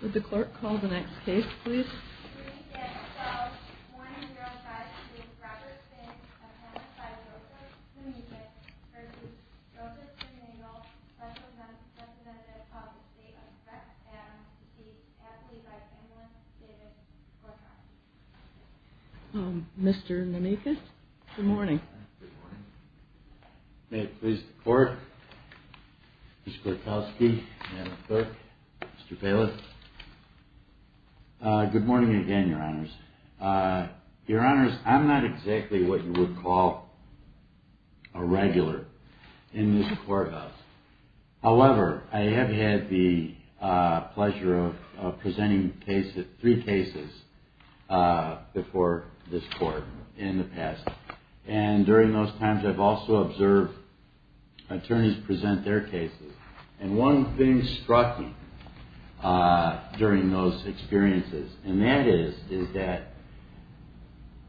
did the clerk call the next case please so 1-05-7 is Robert Finch выпенд vicious and assisted by Joseph Nemechis Mr. Nemechis Good Morning May it please the court, Mr. Kortelsky, Madam Clerk, Mr. Phelous. Good morning again your honors. Your honors, I'm not exactly what you would call a regular in this courthouse. However, I have had the pleasure of presenting three cases before this court in the past, and during those times I've also observed attorneys present their cases, and one thing struck me during those experiences, and that is, is that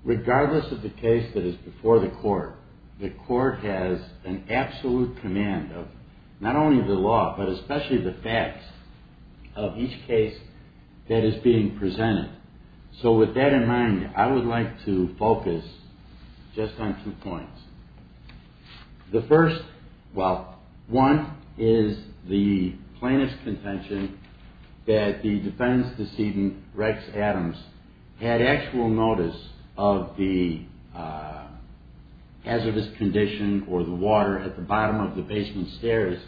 regardless of the case that is before the court, the court has an absolute command of not only the law but especially the facts of each case that is being presented. So with that in mind, I would like to focus just on two points. The first, well, one is the plaintiff's contention that the defendant's decedent Rex Adams had actual notice of the hazardous condition or the water at the bottom of the basement stairs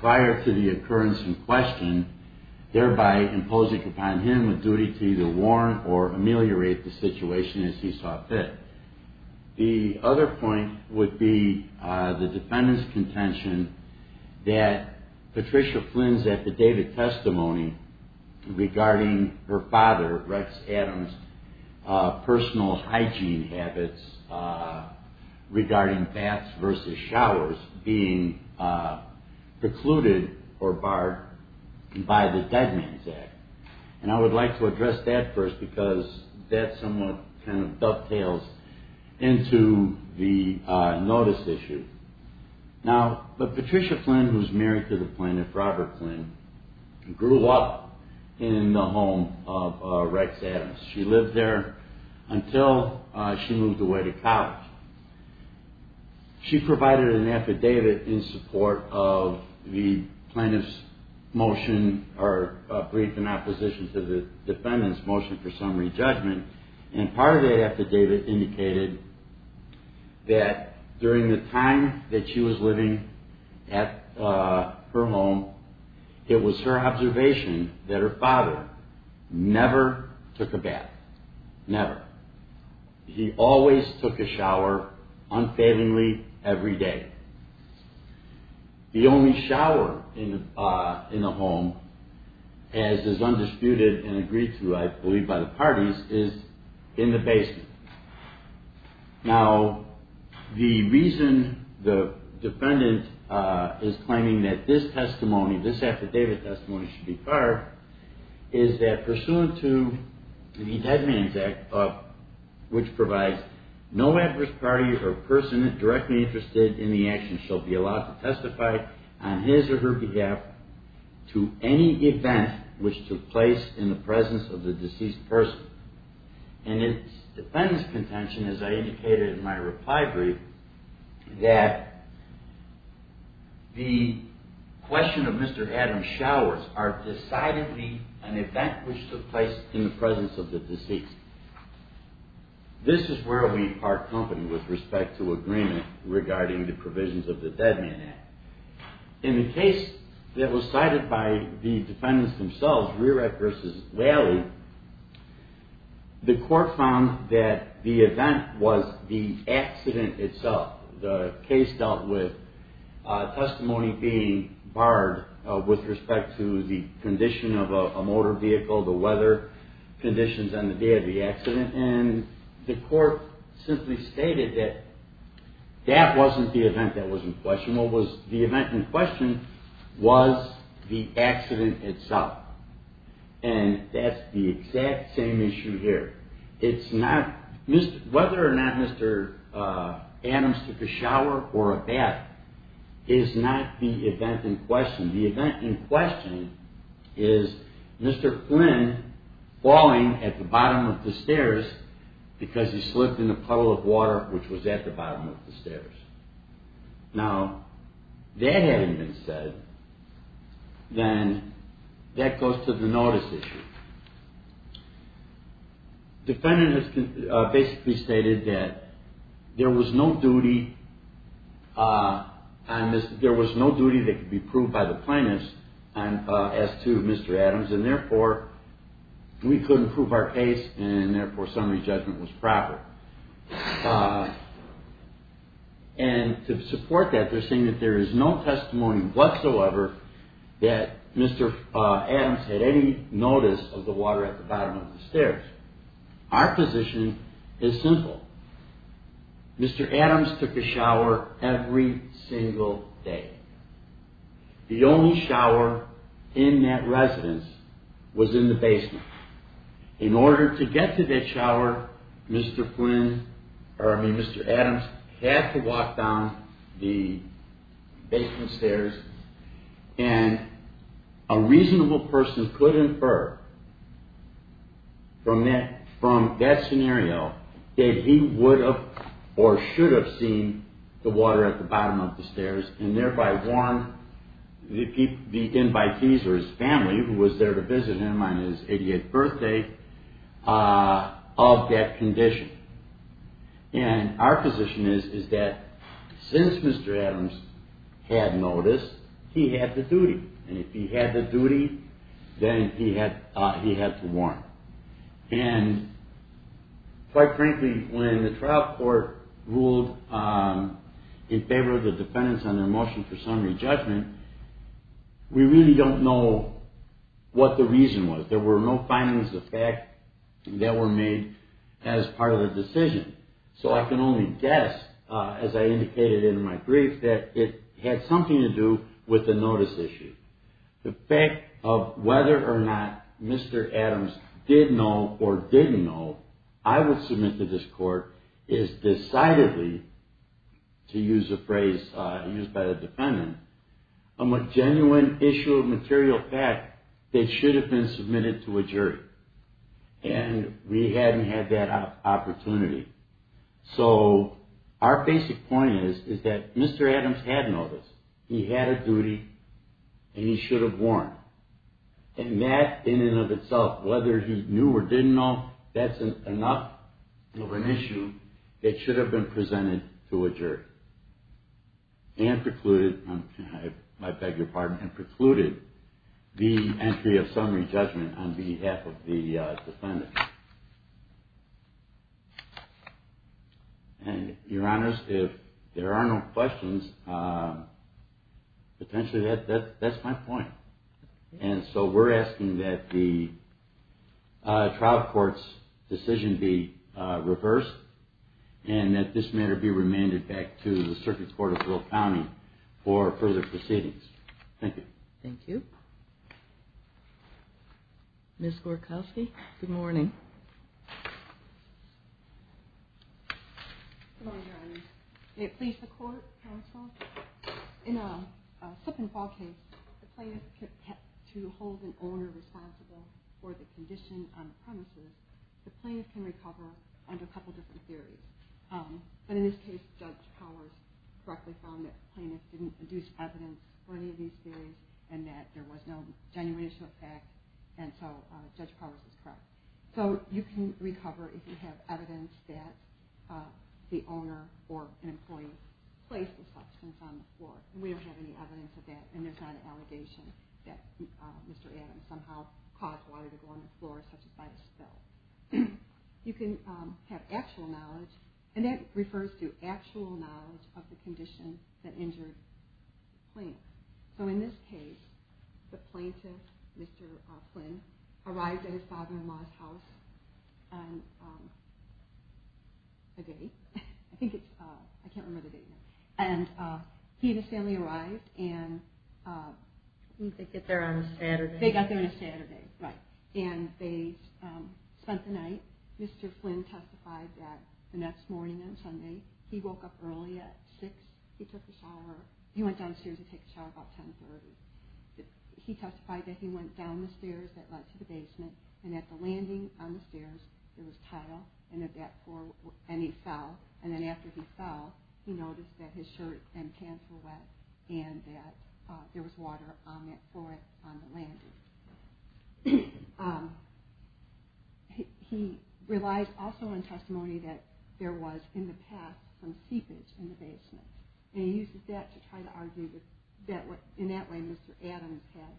prior to the occurrence in question, thereby imposing upon him a duty to either warn or ameliorate the situation as he saw fit. The other point would be the defendant's contention that Patricia Flynn's affidavit testimony regarding her father, Rex Adams, personal hygiene habits regarding baths being precluded or barred by the Dead Man's Act, and I would like to address that first because that somewhat kind of dovetails into the notice issue. Now, but Patricia Flynn, who's married to the plaintiff, Robert Flynn, grew up in the home of Rex Adams. She lived there until she moved away to David in support of the plaintiff's motion or briefed in opposition to the defendant's motion for summary judgment, and part of the affidavit indicated that during the time that she was living at her home, it was her observation that her father never took a bath, never. He always took a shower, unfailingly, every day. The only shower in the home, as is undisputed and agreed to, I believe, by the parties is in the basement. Now, the reason the defendant is claiming that this testimony, this affidavit or person directly interested in the action shall be allowed to testify on his or her behalf to any event which took place in the presence of the deceased person, and its defendant's contention, as I indicated in my reply brief, that the question of Mr. Adams' showers are decidedly an event which took place in the presence of the deceased. This is where we are company with respect to agreement regarding the provisions of the Dead Man Act. In the case that was cited by the defendants themselves, Rerek versus Lally, the court found that the event was the accident itself. The case dealt with testimony being barred with respect to the condition of a motor vehicle, the weather conditions on the day of the accident, and the court simply stated that that wasn't the event that was in question. What was the event in question was the accident itself, and that's the exact same issue here. It's not Whether or not Mr. Adams took a shower or a bath is not the event in question. The event in question is Mr. Flynn falling at the bottom of the stairs because he slipped in the puddle of water which was at the bottom of the stairs. Now, that having been said, then that goes to the notice issue. Defendants basically stated that there was no duty that could be proved by the plaintiffs as to Mr. Adams, and therefore, we couldn't prove our case, and therefore, summary judgment was proper. And to support that, they're saying that there is no testimony whatsoever that Mr. Adams had any notice of the water at the bottom of the stairs. Our position is simple. Mr. Adams took a shower every single day. The only shower in that residence was in the basement. In order to get to that shower, Mr. Adams had to walk down the basement stairs, and a reasonable person could infer from that scenario that he would have or at the bottom of the stairs, and thereby warn the invitees or his family who was there to visit him on his 88th birthday of that condition. And our position is that since Mr. Adams had notice, he had the duty, and if he had the duty, then he had to warn. And quite frankly, when the trial court ruled in favor of the defendants on their motion for summary judgment, we really don't know what the reason was. There were no findings of fact that were made as part of the decision. So I can only guess, as I indicated in my brief, that it had something to do with the notice issue. The notice is decidedly, to use a phrase used by the defendant, a genuine issue of material fact that should have been submitted to a jury. And we hadn't had that opportunity. So our basic point is that Mr. Adams had notice. He had a duty, and he should have warned. And that in and of itself, whether he knew or didn't know, that's enough of an issue that should have been presented to a jury. And precluded, I beg your pardon, and precluded the entry of summary judgment on behalf of the trial court's decision be reversed, and that this matter be remanded back to the Circuit Court of Little County for further proceedings. Thank you. Thank you. Ms. Gorkowski, good morning. Good morning, Your Honor. May it please the Court, counsel? In a slip-and-fall case, the plaintiff is kept to hold an owner responsible for the condition on the premises. The plaintiff can recover under a couple different theories. But in this case, Judge Powers directly found that the plaintiff didn't produce evidence for any of these theories, and that there was no genuine issue of fact. And so Judge Powers is correct. So you can recover if you have evidence that the owner or an employee placed the substance on the floor. We don't have any evidence of that, and there's not an allegation that Mr. Adams somehow caused water to go on the floor, such as by the spill. You can have actual knowledge, and that In this case, the plaintiff, Mr. Flynn, arrived at his father-in-law's house on a date. I think it's – I can't remember the date now. And he and his family arrived, and they got there on a Saturday, and they spent the night. Mr. Flynn testified that the next morning on Sunday, he woke up early at 6. He took a shower – he went downstairs to take a shower about 10.30. He testified that he went down the stairs that led to the basement, and at the landing on the stairs, there was tile, and at that floor – and he fell. And then after he fell, he noticed that his shirt and pants were wet, and that there was water on that floor on the landing. He relies also on testimony that there was, in the past, some seepage in the basement. And he uses that to try to argue that in that way, Mr. Adams had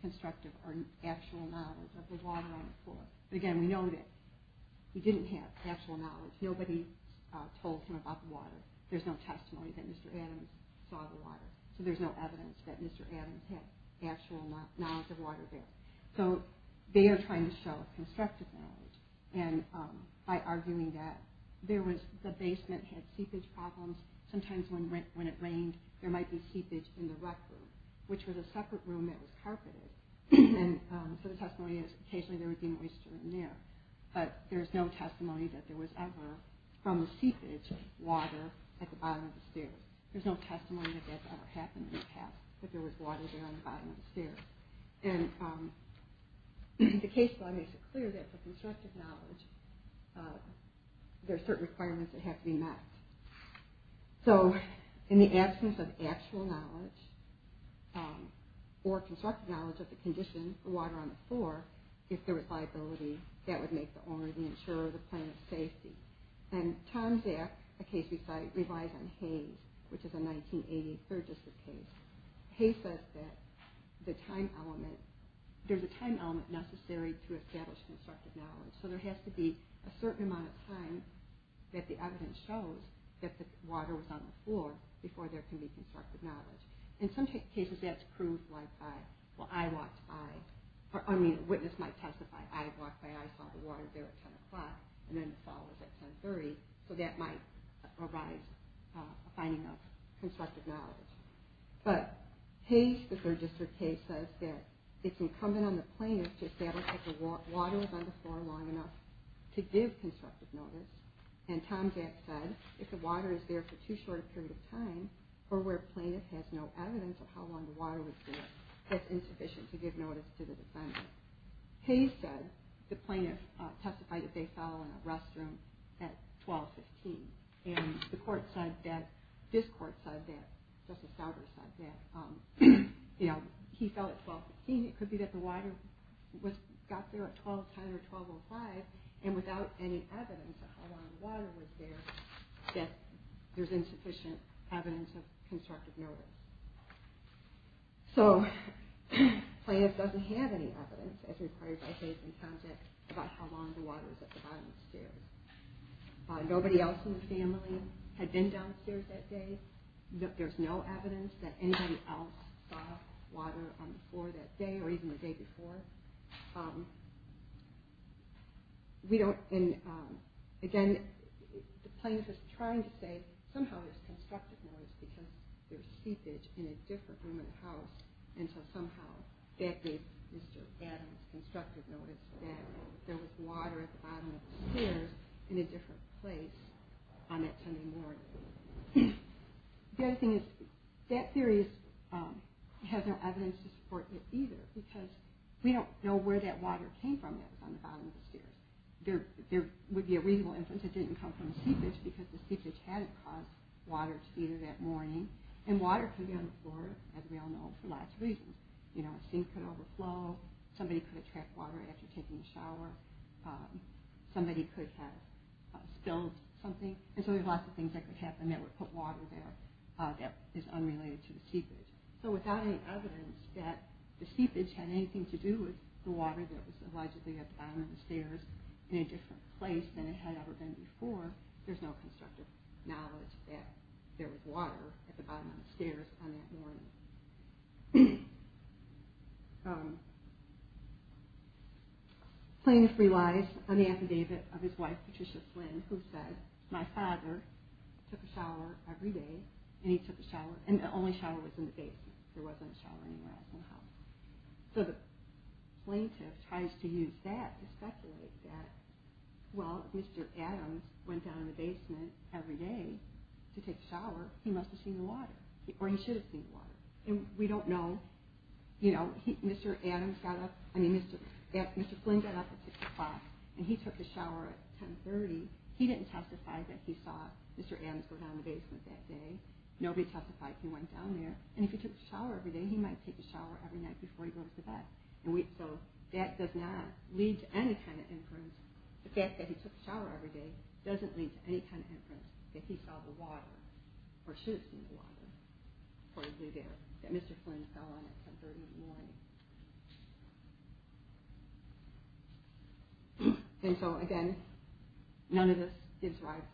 constructive or actual knowledge of the water on the floor. But again, we know that he didn't have actual knowledge. Nobody told him about the water. There's no testimony that Mr. Adams saw the water, so there's no evidence that Mr. Adams had actual knowledge of water there. So they are trying to show constructive knowledge, and by arguing that there was – the basement had seepage problems. Sometimes when it rained, there might be seepage in the rec room, which was a separate room that was carpeted. And so the testimony is occasionally there would be moisture in there. But there's no testimony that there was ever, from the seepage, water at the bottom of the stairs. There's no testimony that that's ever happened in the past, that there was water there on the bottom of the stairs. And the case law makes it clear that for constructive knowledge, there are certain requirements that have to be met. So in the absence of actual knowledge or constructive knowledge of the condition, the water on the floor, if there was liability, that would make the owner the insurer of the plan of safety. And Tom Jack, a case we cite, relies on Hayes, which is a 1983 case. Hayes says that there's a time element necessary to establish constructive knowledge. So there has to be a certain amount of time that the evidence shows that the water was on the floor before there can be constructive knowledge. In some cases, that's proved by eyewalks. I mean, a witness might testify, I walked by, I saw the water there at 10 o'clock, and then the fall was at 10.30, so that might provide a finding of constructive knowledge. But Hayes, the third district case, says that it's incumbent on the plaintiff to establish that the water was on the floor long enough to give constructive knowledge. And Tom Jack said, if the water is there for too short a period of time, or where a plaintiff has no evidence of how long the water was there, that's insufficient to give knowledge to the defendant. Hayes said, the plaintiff testified that they fell in a restroom at 12.15, and the court said that, this court said that, Justice Stauber said that, you know, he fell at 12.15, it could be that the water got there at 12.10 or 12.05, and without any evidence of how long the water was there, that there's insufficient evidence of constructive knowledge. So, the plaintiff doesn't have any evidence, as required by Hayes and Tom Jack, about how long the water was at the bottom of the stairs. Nobody else in the family had been downstairs that day, there's no evidence that anybody else saw water on the floor that day, or even the day before. Again, the plaintiff is trying to say, somehow there's constructive knowledge because there's seepage in a different room in the house, and so somehow that gave Mr. Adams constructive knowledge that there was water at the bottom of the stairs in a different place on that Sunday morning. The other thing is, that theory has no evidence to support it either, because we don't know where that water came from that was on the bottom of the stairs. There would be a reasonable inference that it didn't come from seepage, because the seepage hadn't caused water to be there that morning, and water could be on the floor, as we all know, for lots of reasons. You know, a sink could overflow, somebody could have trapped water after taking a shower, somebody could have spilled something, and so there's lots of things that could happen that would put water there that is unrelated to the seepage. So without any evidence that the seepage had anything to do with the water that was allegedly at the bottom of the stairs in a different place than it had ever been before, there's no constructive knowledge that there was water at the bottom of the stairs on that morning. Plaintiff relies on the affidavit of his wife, Patricia Flynn, who said, my father took a shower every day, and he took a shower, and the only shower was in the basement, there wasn't a shower anywhere else in the house. So the plaintiff tries to use that to speculate that, well, if Mr. Adams went down in the basement every day to take a shower, he must have seen the water, or he should have seen the water. And we don't know, you know, Mr. Adams got up, I mean, Mr. Flynn got up at 6 o'clock, and he took a shower at 10.30, he didn't testify that he saw Mr. Adams go down the basement that day, nobody testified he went down there, and if he took a shower every day, he might take a shower every night before he goes to bed. So that does not lead to any kind of inference, the fact that he took a shower every day doesn't lead to any kind of inference that he saw the water, or should have seen the water, that Mr. Flynn fell on at 10.30 in the morning. And so, again, none of this gives rise,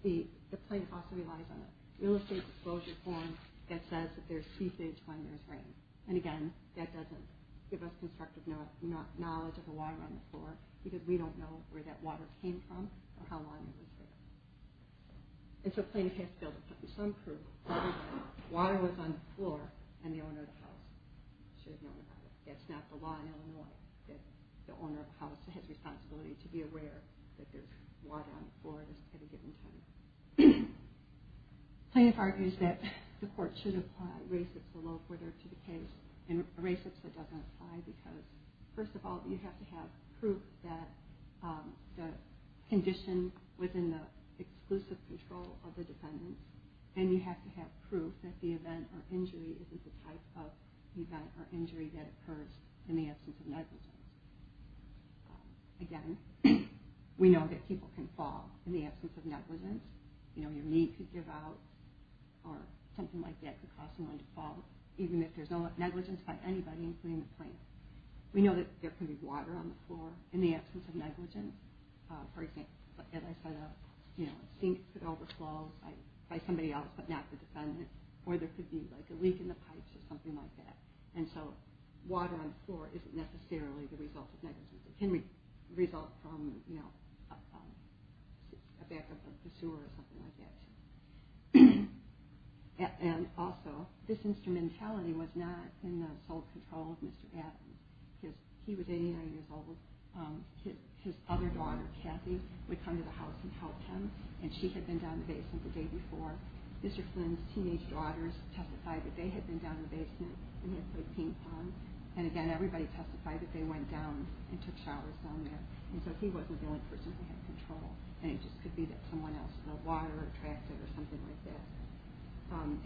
the plaintiff also relies on a real estate disclosure form that says that there's ceasage when there's rain, and again, that doesn't give us constructive knowledge of the water on the floor, because we don't know where that water came from, or how long it was there. And so plaintiff has to be able to put in some proof that the water was on the floor, and the owner of the house should have known about it. That's not the law in Illinois, that the owner of the house has responsibility to be aware that there's water on the floor at a given time. Plaintiff argues that the court should apply racist or low-bidder to the case, and racist, that doesn't apply because, first of all, you have to have proof that the condition was in the exclusive control of the defendant, and you have to have proof that the event or injury isn't the type of event or injury that occurs in the absence of negligence. Again, we know that people can fall in the absence of negligence. You know, your knee could give out, or something like that could cause someone to fall, even if there's no negligence by anybody, including the plaintiff. We know that there could be water on the floor in the absence of negligence. For example, as I said, a sink could overflow by somebody else but not the defendant, or there could be a leak in the pipes or something like that. And so water on the floor isn't necessarily the result of negligence. It can result from a backup of the sewer or something like that. And also, this instrumentality was not in the sole control of Mr. Adams. He was 89 years old. His other daughter, Kathy, would come to the house and help him, and she had been down in the basement the day before. Mr. Flynn's teenage daughters testified that they had been down in the basement and had played ping-pong. And again, everybody testified that they went down and took showers down there. And so he wasn't the only person who had control. And it just could be that someone else, you know, water attracted, or something like that.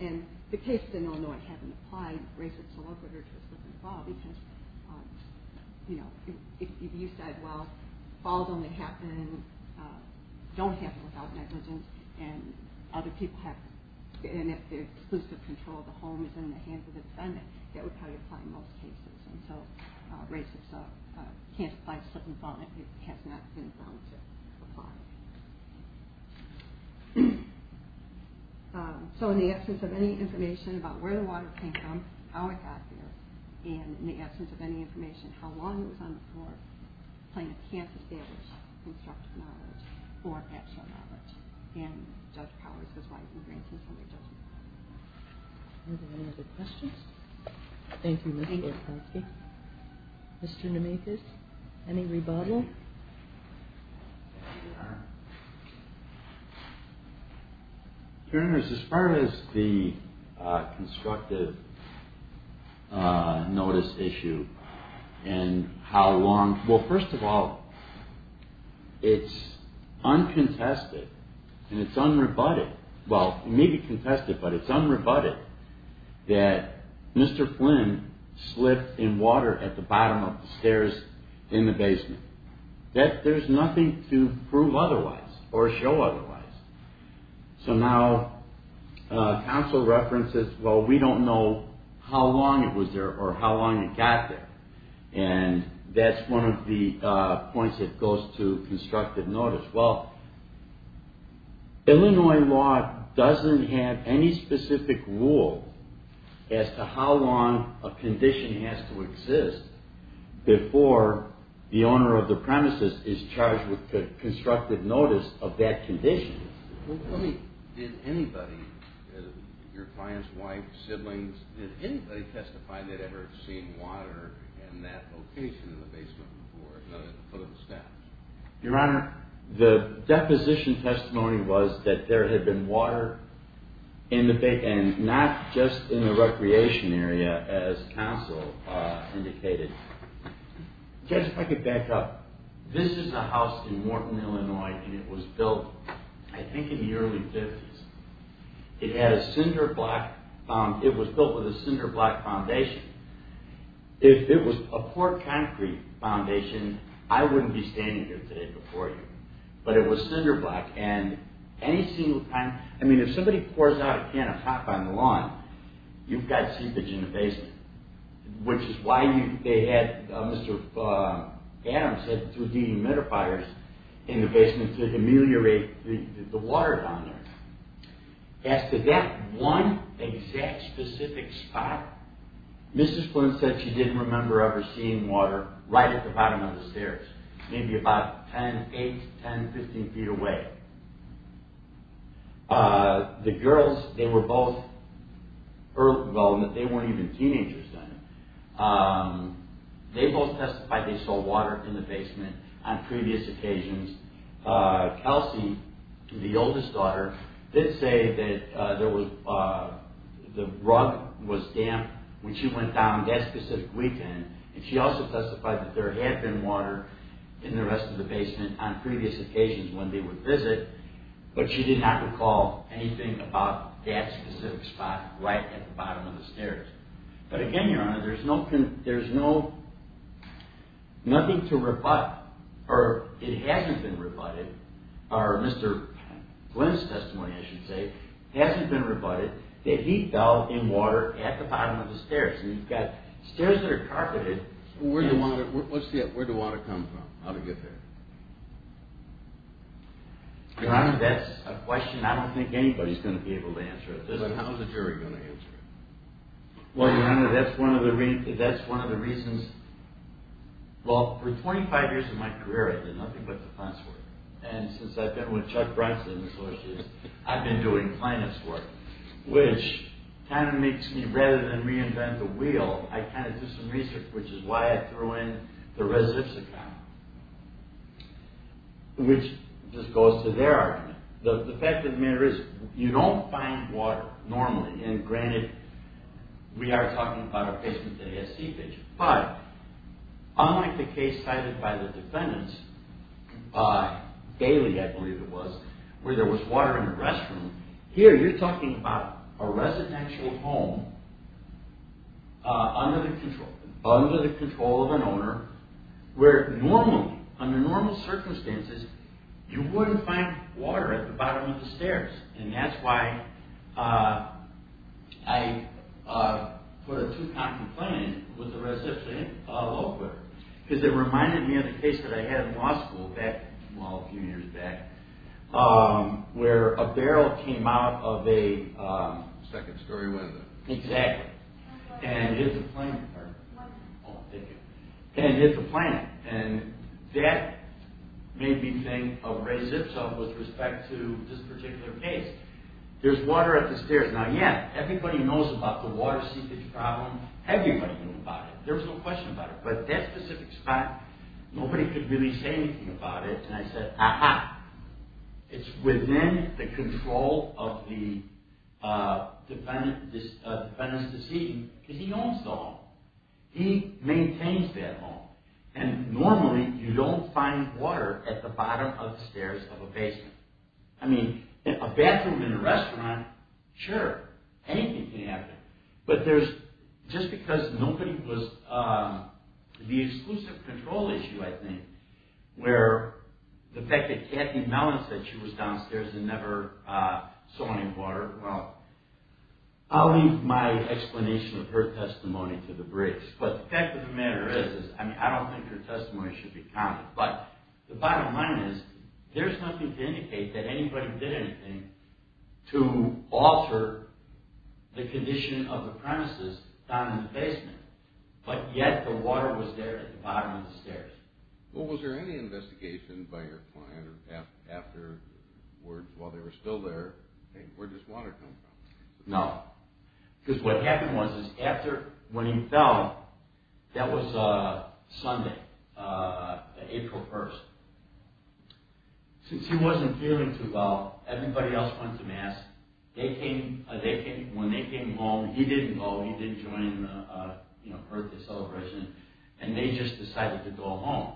And the cases in Illinois haven't applied. RACIPS is a little bit harder to slip and fall because, you know, if you said, well, falls only happen, don't happen without negligence, and other people have, and if the exclusive control of the home is in the hands of the defendant, that would probably apply in most cases. And so RACIPS can't apply to slip and fall. It has not been found to apply. So in the absence of any information about where the water came from, how it got there, and in the absence of any information how long it was on the floor, plaintiff can't establish constructive knowledge or actual knowledge. And Judge Powers is right in granting somebody judgment. Any other questions? Thank you. Mr. Nemethis, any rebuttal? Your Honor, as far as the constructive notice issue and how long, well, first of all, it's uncontested and it's unrebutted, well, maybe contested, but it's unrebutted that Mr. Flynn slipped in water at the bottom of the stairs in the basement. There's nothing to prove otherwise or show otherwise. So now counsel references, well, we don't know how long it was there or how long it got there, and that's one of the points that goes to constructive notice. Well, Illinois law doesn't have any specific rule as to how long a condition has to exist before the owner of the premises is charged with constructive notice of that condition. Well, tell me, did anybody, your clients, wife, siblings, did anybody testify they'd ever seen water in that location in the basement before, other than the foot of the steps? Your Honor, the deposition testimony was that there had been water in the basement and not just in the recreation area as counsel indicated. Judge, if I could back up. This is a house in Morton, Illinois, and it was built, I think, in the early 50s. It had a cinder block, it was built with a cinder block foundation. If it was a poor concrete foundation, I wouldn't be standing here today before you. But it was cinder block, and any single time, I mean, if somebody pours out a can of hop on the lawn, you've got seepage in the basement, which is why they had Mr. Adams had 3D humidifiers in the basement to humiliate the water down there. As to that one exact specific spot, Mrs. Flynn said she didn't remember ever seeing water right at the bottom of the stairs, maybe about 10, 8, 10, 15 feet away. The girls, they were both, well, they weren't even teenagers then. They both testified they saw water in the basement on previous occasions. Kelsey, the oldest daughter, did say that the rug was damp when she went down that specific weekend, and she also testified that there had been water in the rest of the basement on previous occasions when they would visit, but she did not recall anything about that specific spot right at the bottom of the stairs. But again, Your Honor, there's no, there's no, nothing to rebut, or it hasn't been rebutted, or Mr. Flynn's testimony, I should say, hasn't been rebutted, that he fell in water at the bottom of the stairs, and you've got stairs that are carpeted. Where'd the water come from, how'd it get there? Your Honor, that's a question I don't think anybody's going to be able to answer. But how's a jury going to answer it? Well, Your Honor, that's one of the reasons, well, for 25 years of my career, I did nothing but defense work, and since I've been with Chuck Bronson and Associates, I've been doing finance work, which kind of makes me, rather than reinvent the wheel, I kind of do some research, which is why I threw in the residents account, which just goes to their argument. The fact of the matter is, you don't find water normally, and granted, we are talking about a case that has seepage, but unlike the case cited by the defendants, Bailey, I believe it was, where there was water in the restroom, here you're talking about a residential home under the control of an owner, where normally, under normal circumstances, you wouldn't find water. And that's why I put a two-count complaint with the residents, because it reminded me of a case that I had in law school, well, a few years back, where a barrel came out of a second story window, and hit the plant. And that made me think of Ray Zipso with respect to this particular case. There's water at the stairs. Now, yeah, everybody knows about the water seepage problem. Everybody knew about it. There was no question about it. But that specific spot, nobody could really say anything about it, and I said, aha, it's within the control of the defendant's decision, because he owns the home. He maintains that home. And normally, you don't find water at the bottom of the stairs of a basement. I mean, a bathroom in a restaurant, sure, anything can happen. But there's, just because nobody was, the exclusive control issue, I think, where the fact that Kathy Mellon said she was downstairs and never saw any water, well, I'll leave my explanation of her testimony to the Briggs. But the fact of the matter is, I mean, I don't think her testimony should be counted, but the bottom line is, there's nothing to indicate that anybody did anything to alter the condition of the premises down in the basement, but yet the water was there at the bottom of the stairs. Well, was there any investigation by your client after, while they were still there, where did this water come from? No. Because what happened was, is after, when he fell, that was Sunday, April 1st. Since he wasn't feeling too well, everybody else went to Mass. They came, when they came home, he didn't go, he didn't join the, you know, Earth Day celebration, and they just decided to go home.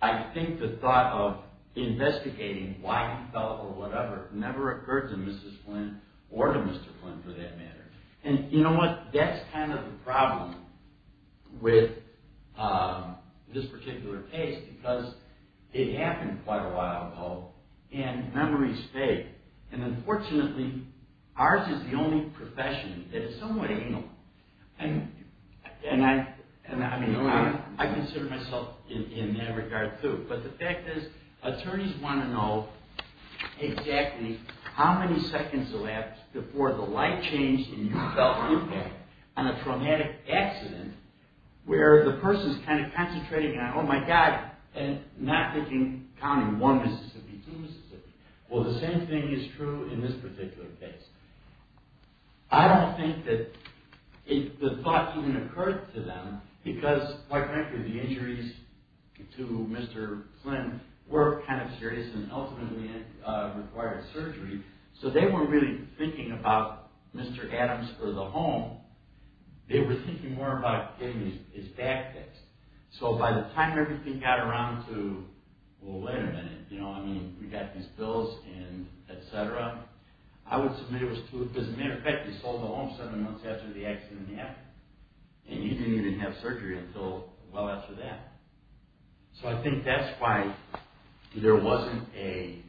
I think the thought of investigating why he fell, or whatever, never occurred to Mrs. Flynn, or to Mr. Flynn, for that matter. And, you know what, that's kind of the problem with this particular case, because it happened quite a while ago, and memories stay. And, unfortunately, ours is the only profession that is somewhat anal. And, I mean, I consider myself in that regard, too. But the fact is, attorneys want to know exactly how many seconds elapsed before the light changed and you felt impact on a traumatic accident, where the person's kind of concentrating on, oh my God, and not thinking, counting one Mississippi, two Mississippi. Well, the same thing is true in this particular case. I don't think that the thought even occurred to them, because, quite frankly, the injuries to Mr. Flynn were kind of serious and ultimately required surgery. So they weren't really thinking about Mr. Adams or the home. They were thinking more about getting his back fixed. So by the time everything got around to, well, wait a minute, you know, I mean, we got these bills and et cetera, I would submit it was true. As a matter of fact, he sold the home seven months after the accident happened, and he didn't even have surgery until well after that. So I think that's why there wasn't a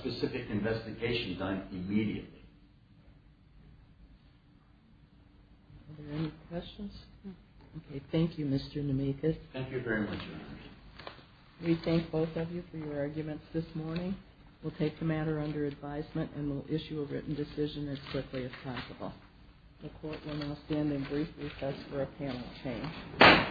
specific investigation done immediately. Are there any questions? Okay. Thank you, Mr. Nemethis. Thank you very much. We thank both of you for your arguments this morning. We'll take the matter under advisement and we'll issue a written decision as quickly as possible. The court will now stand and briefly assess for a panel change.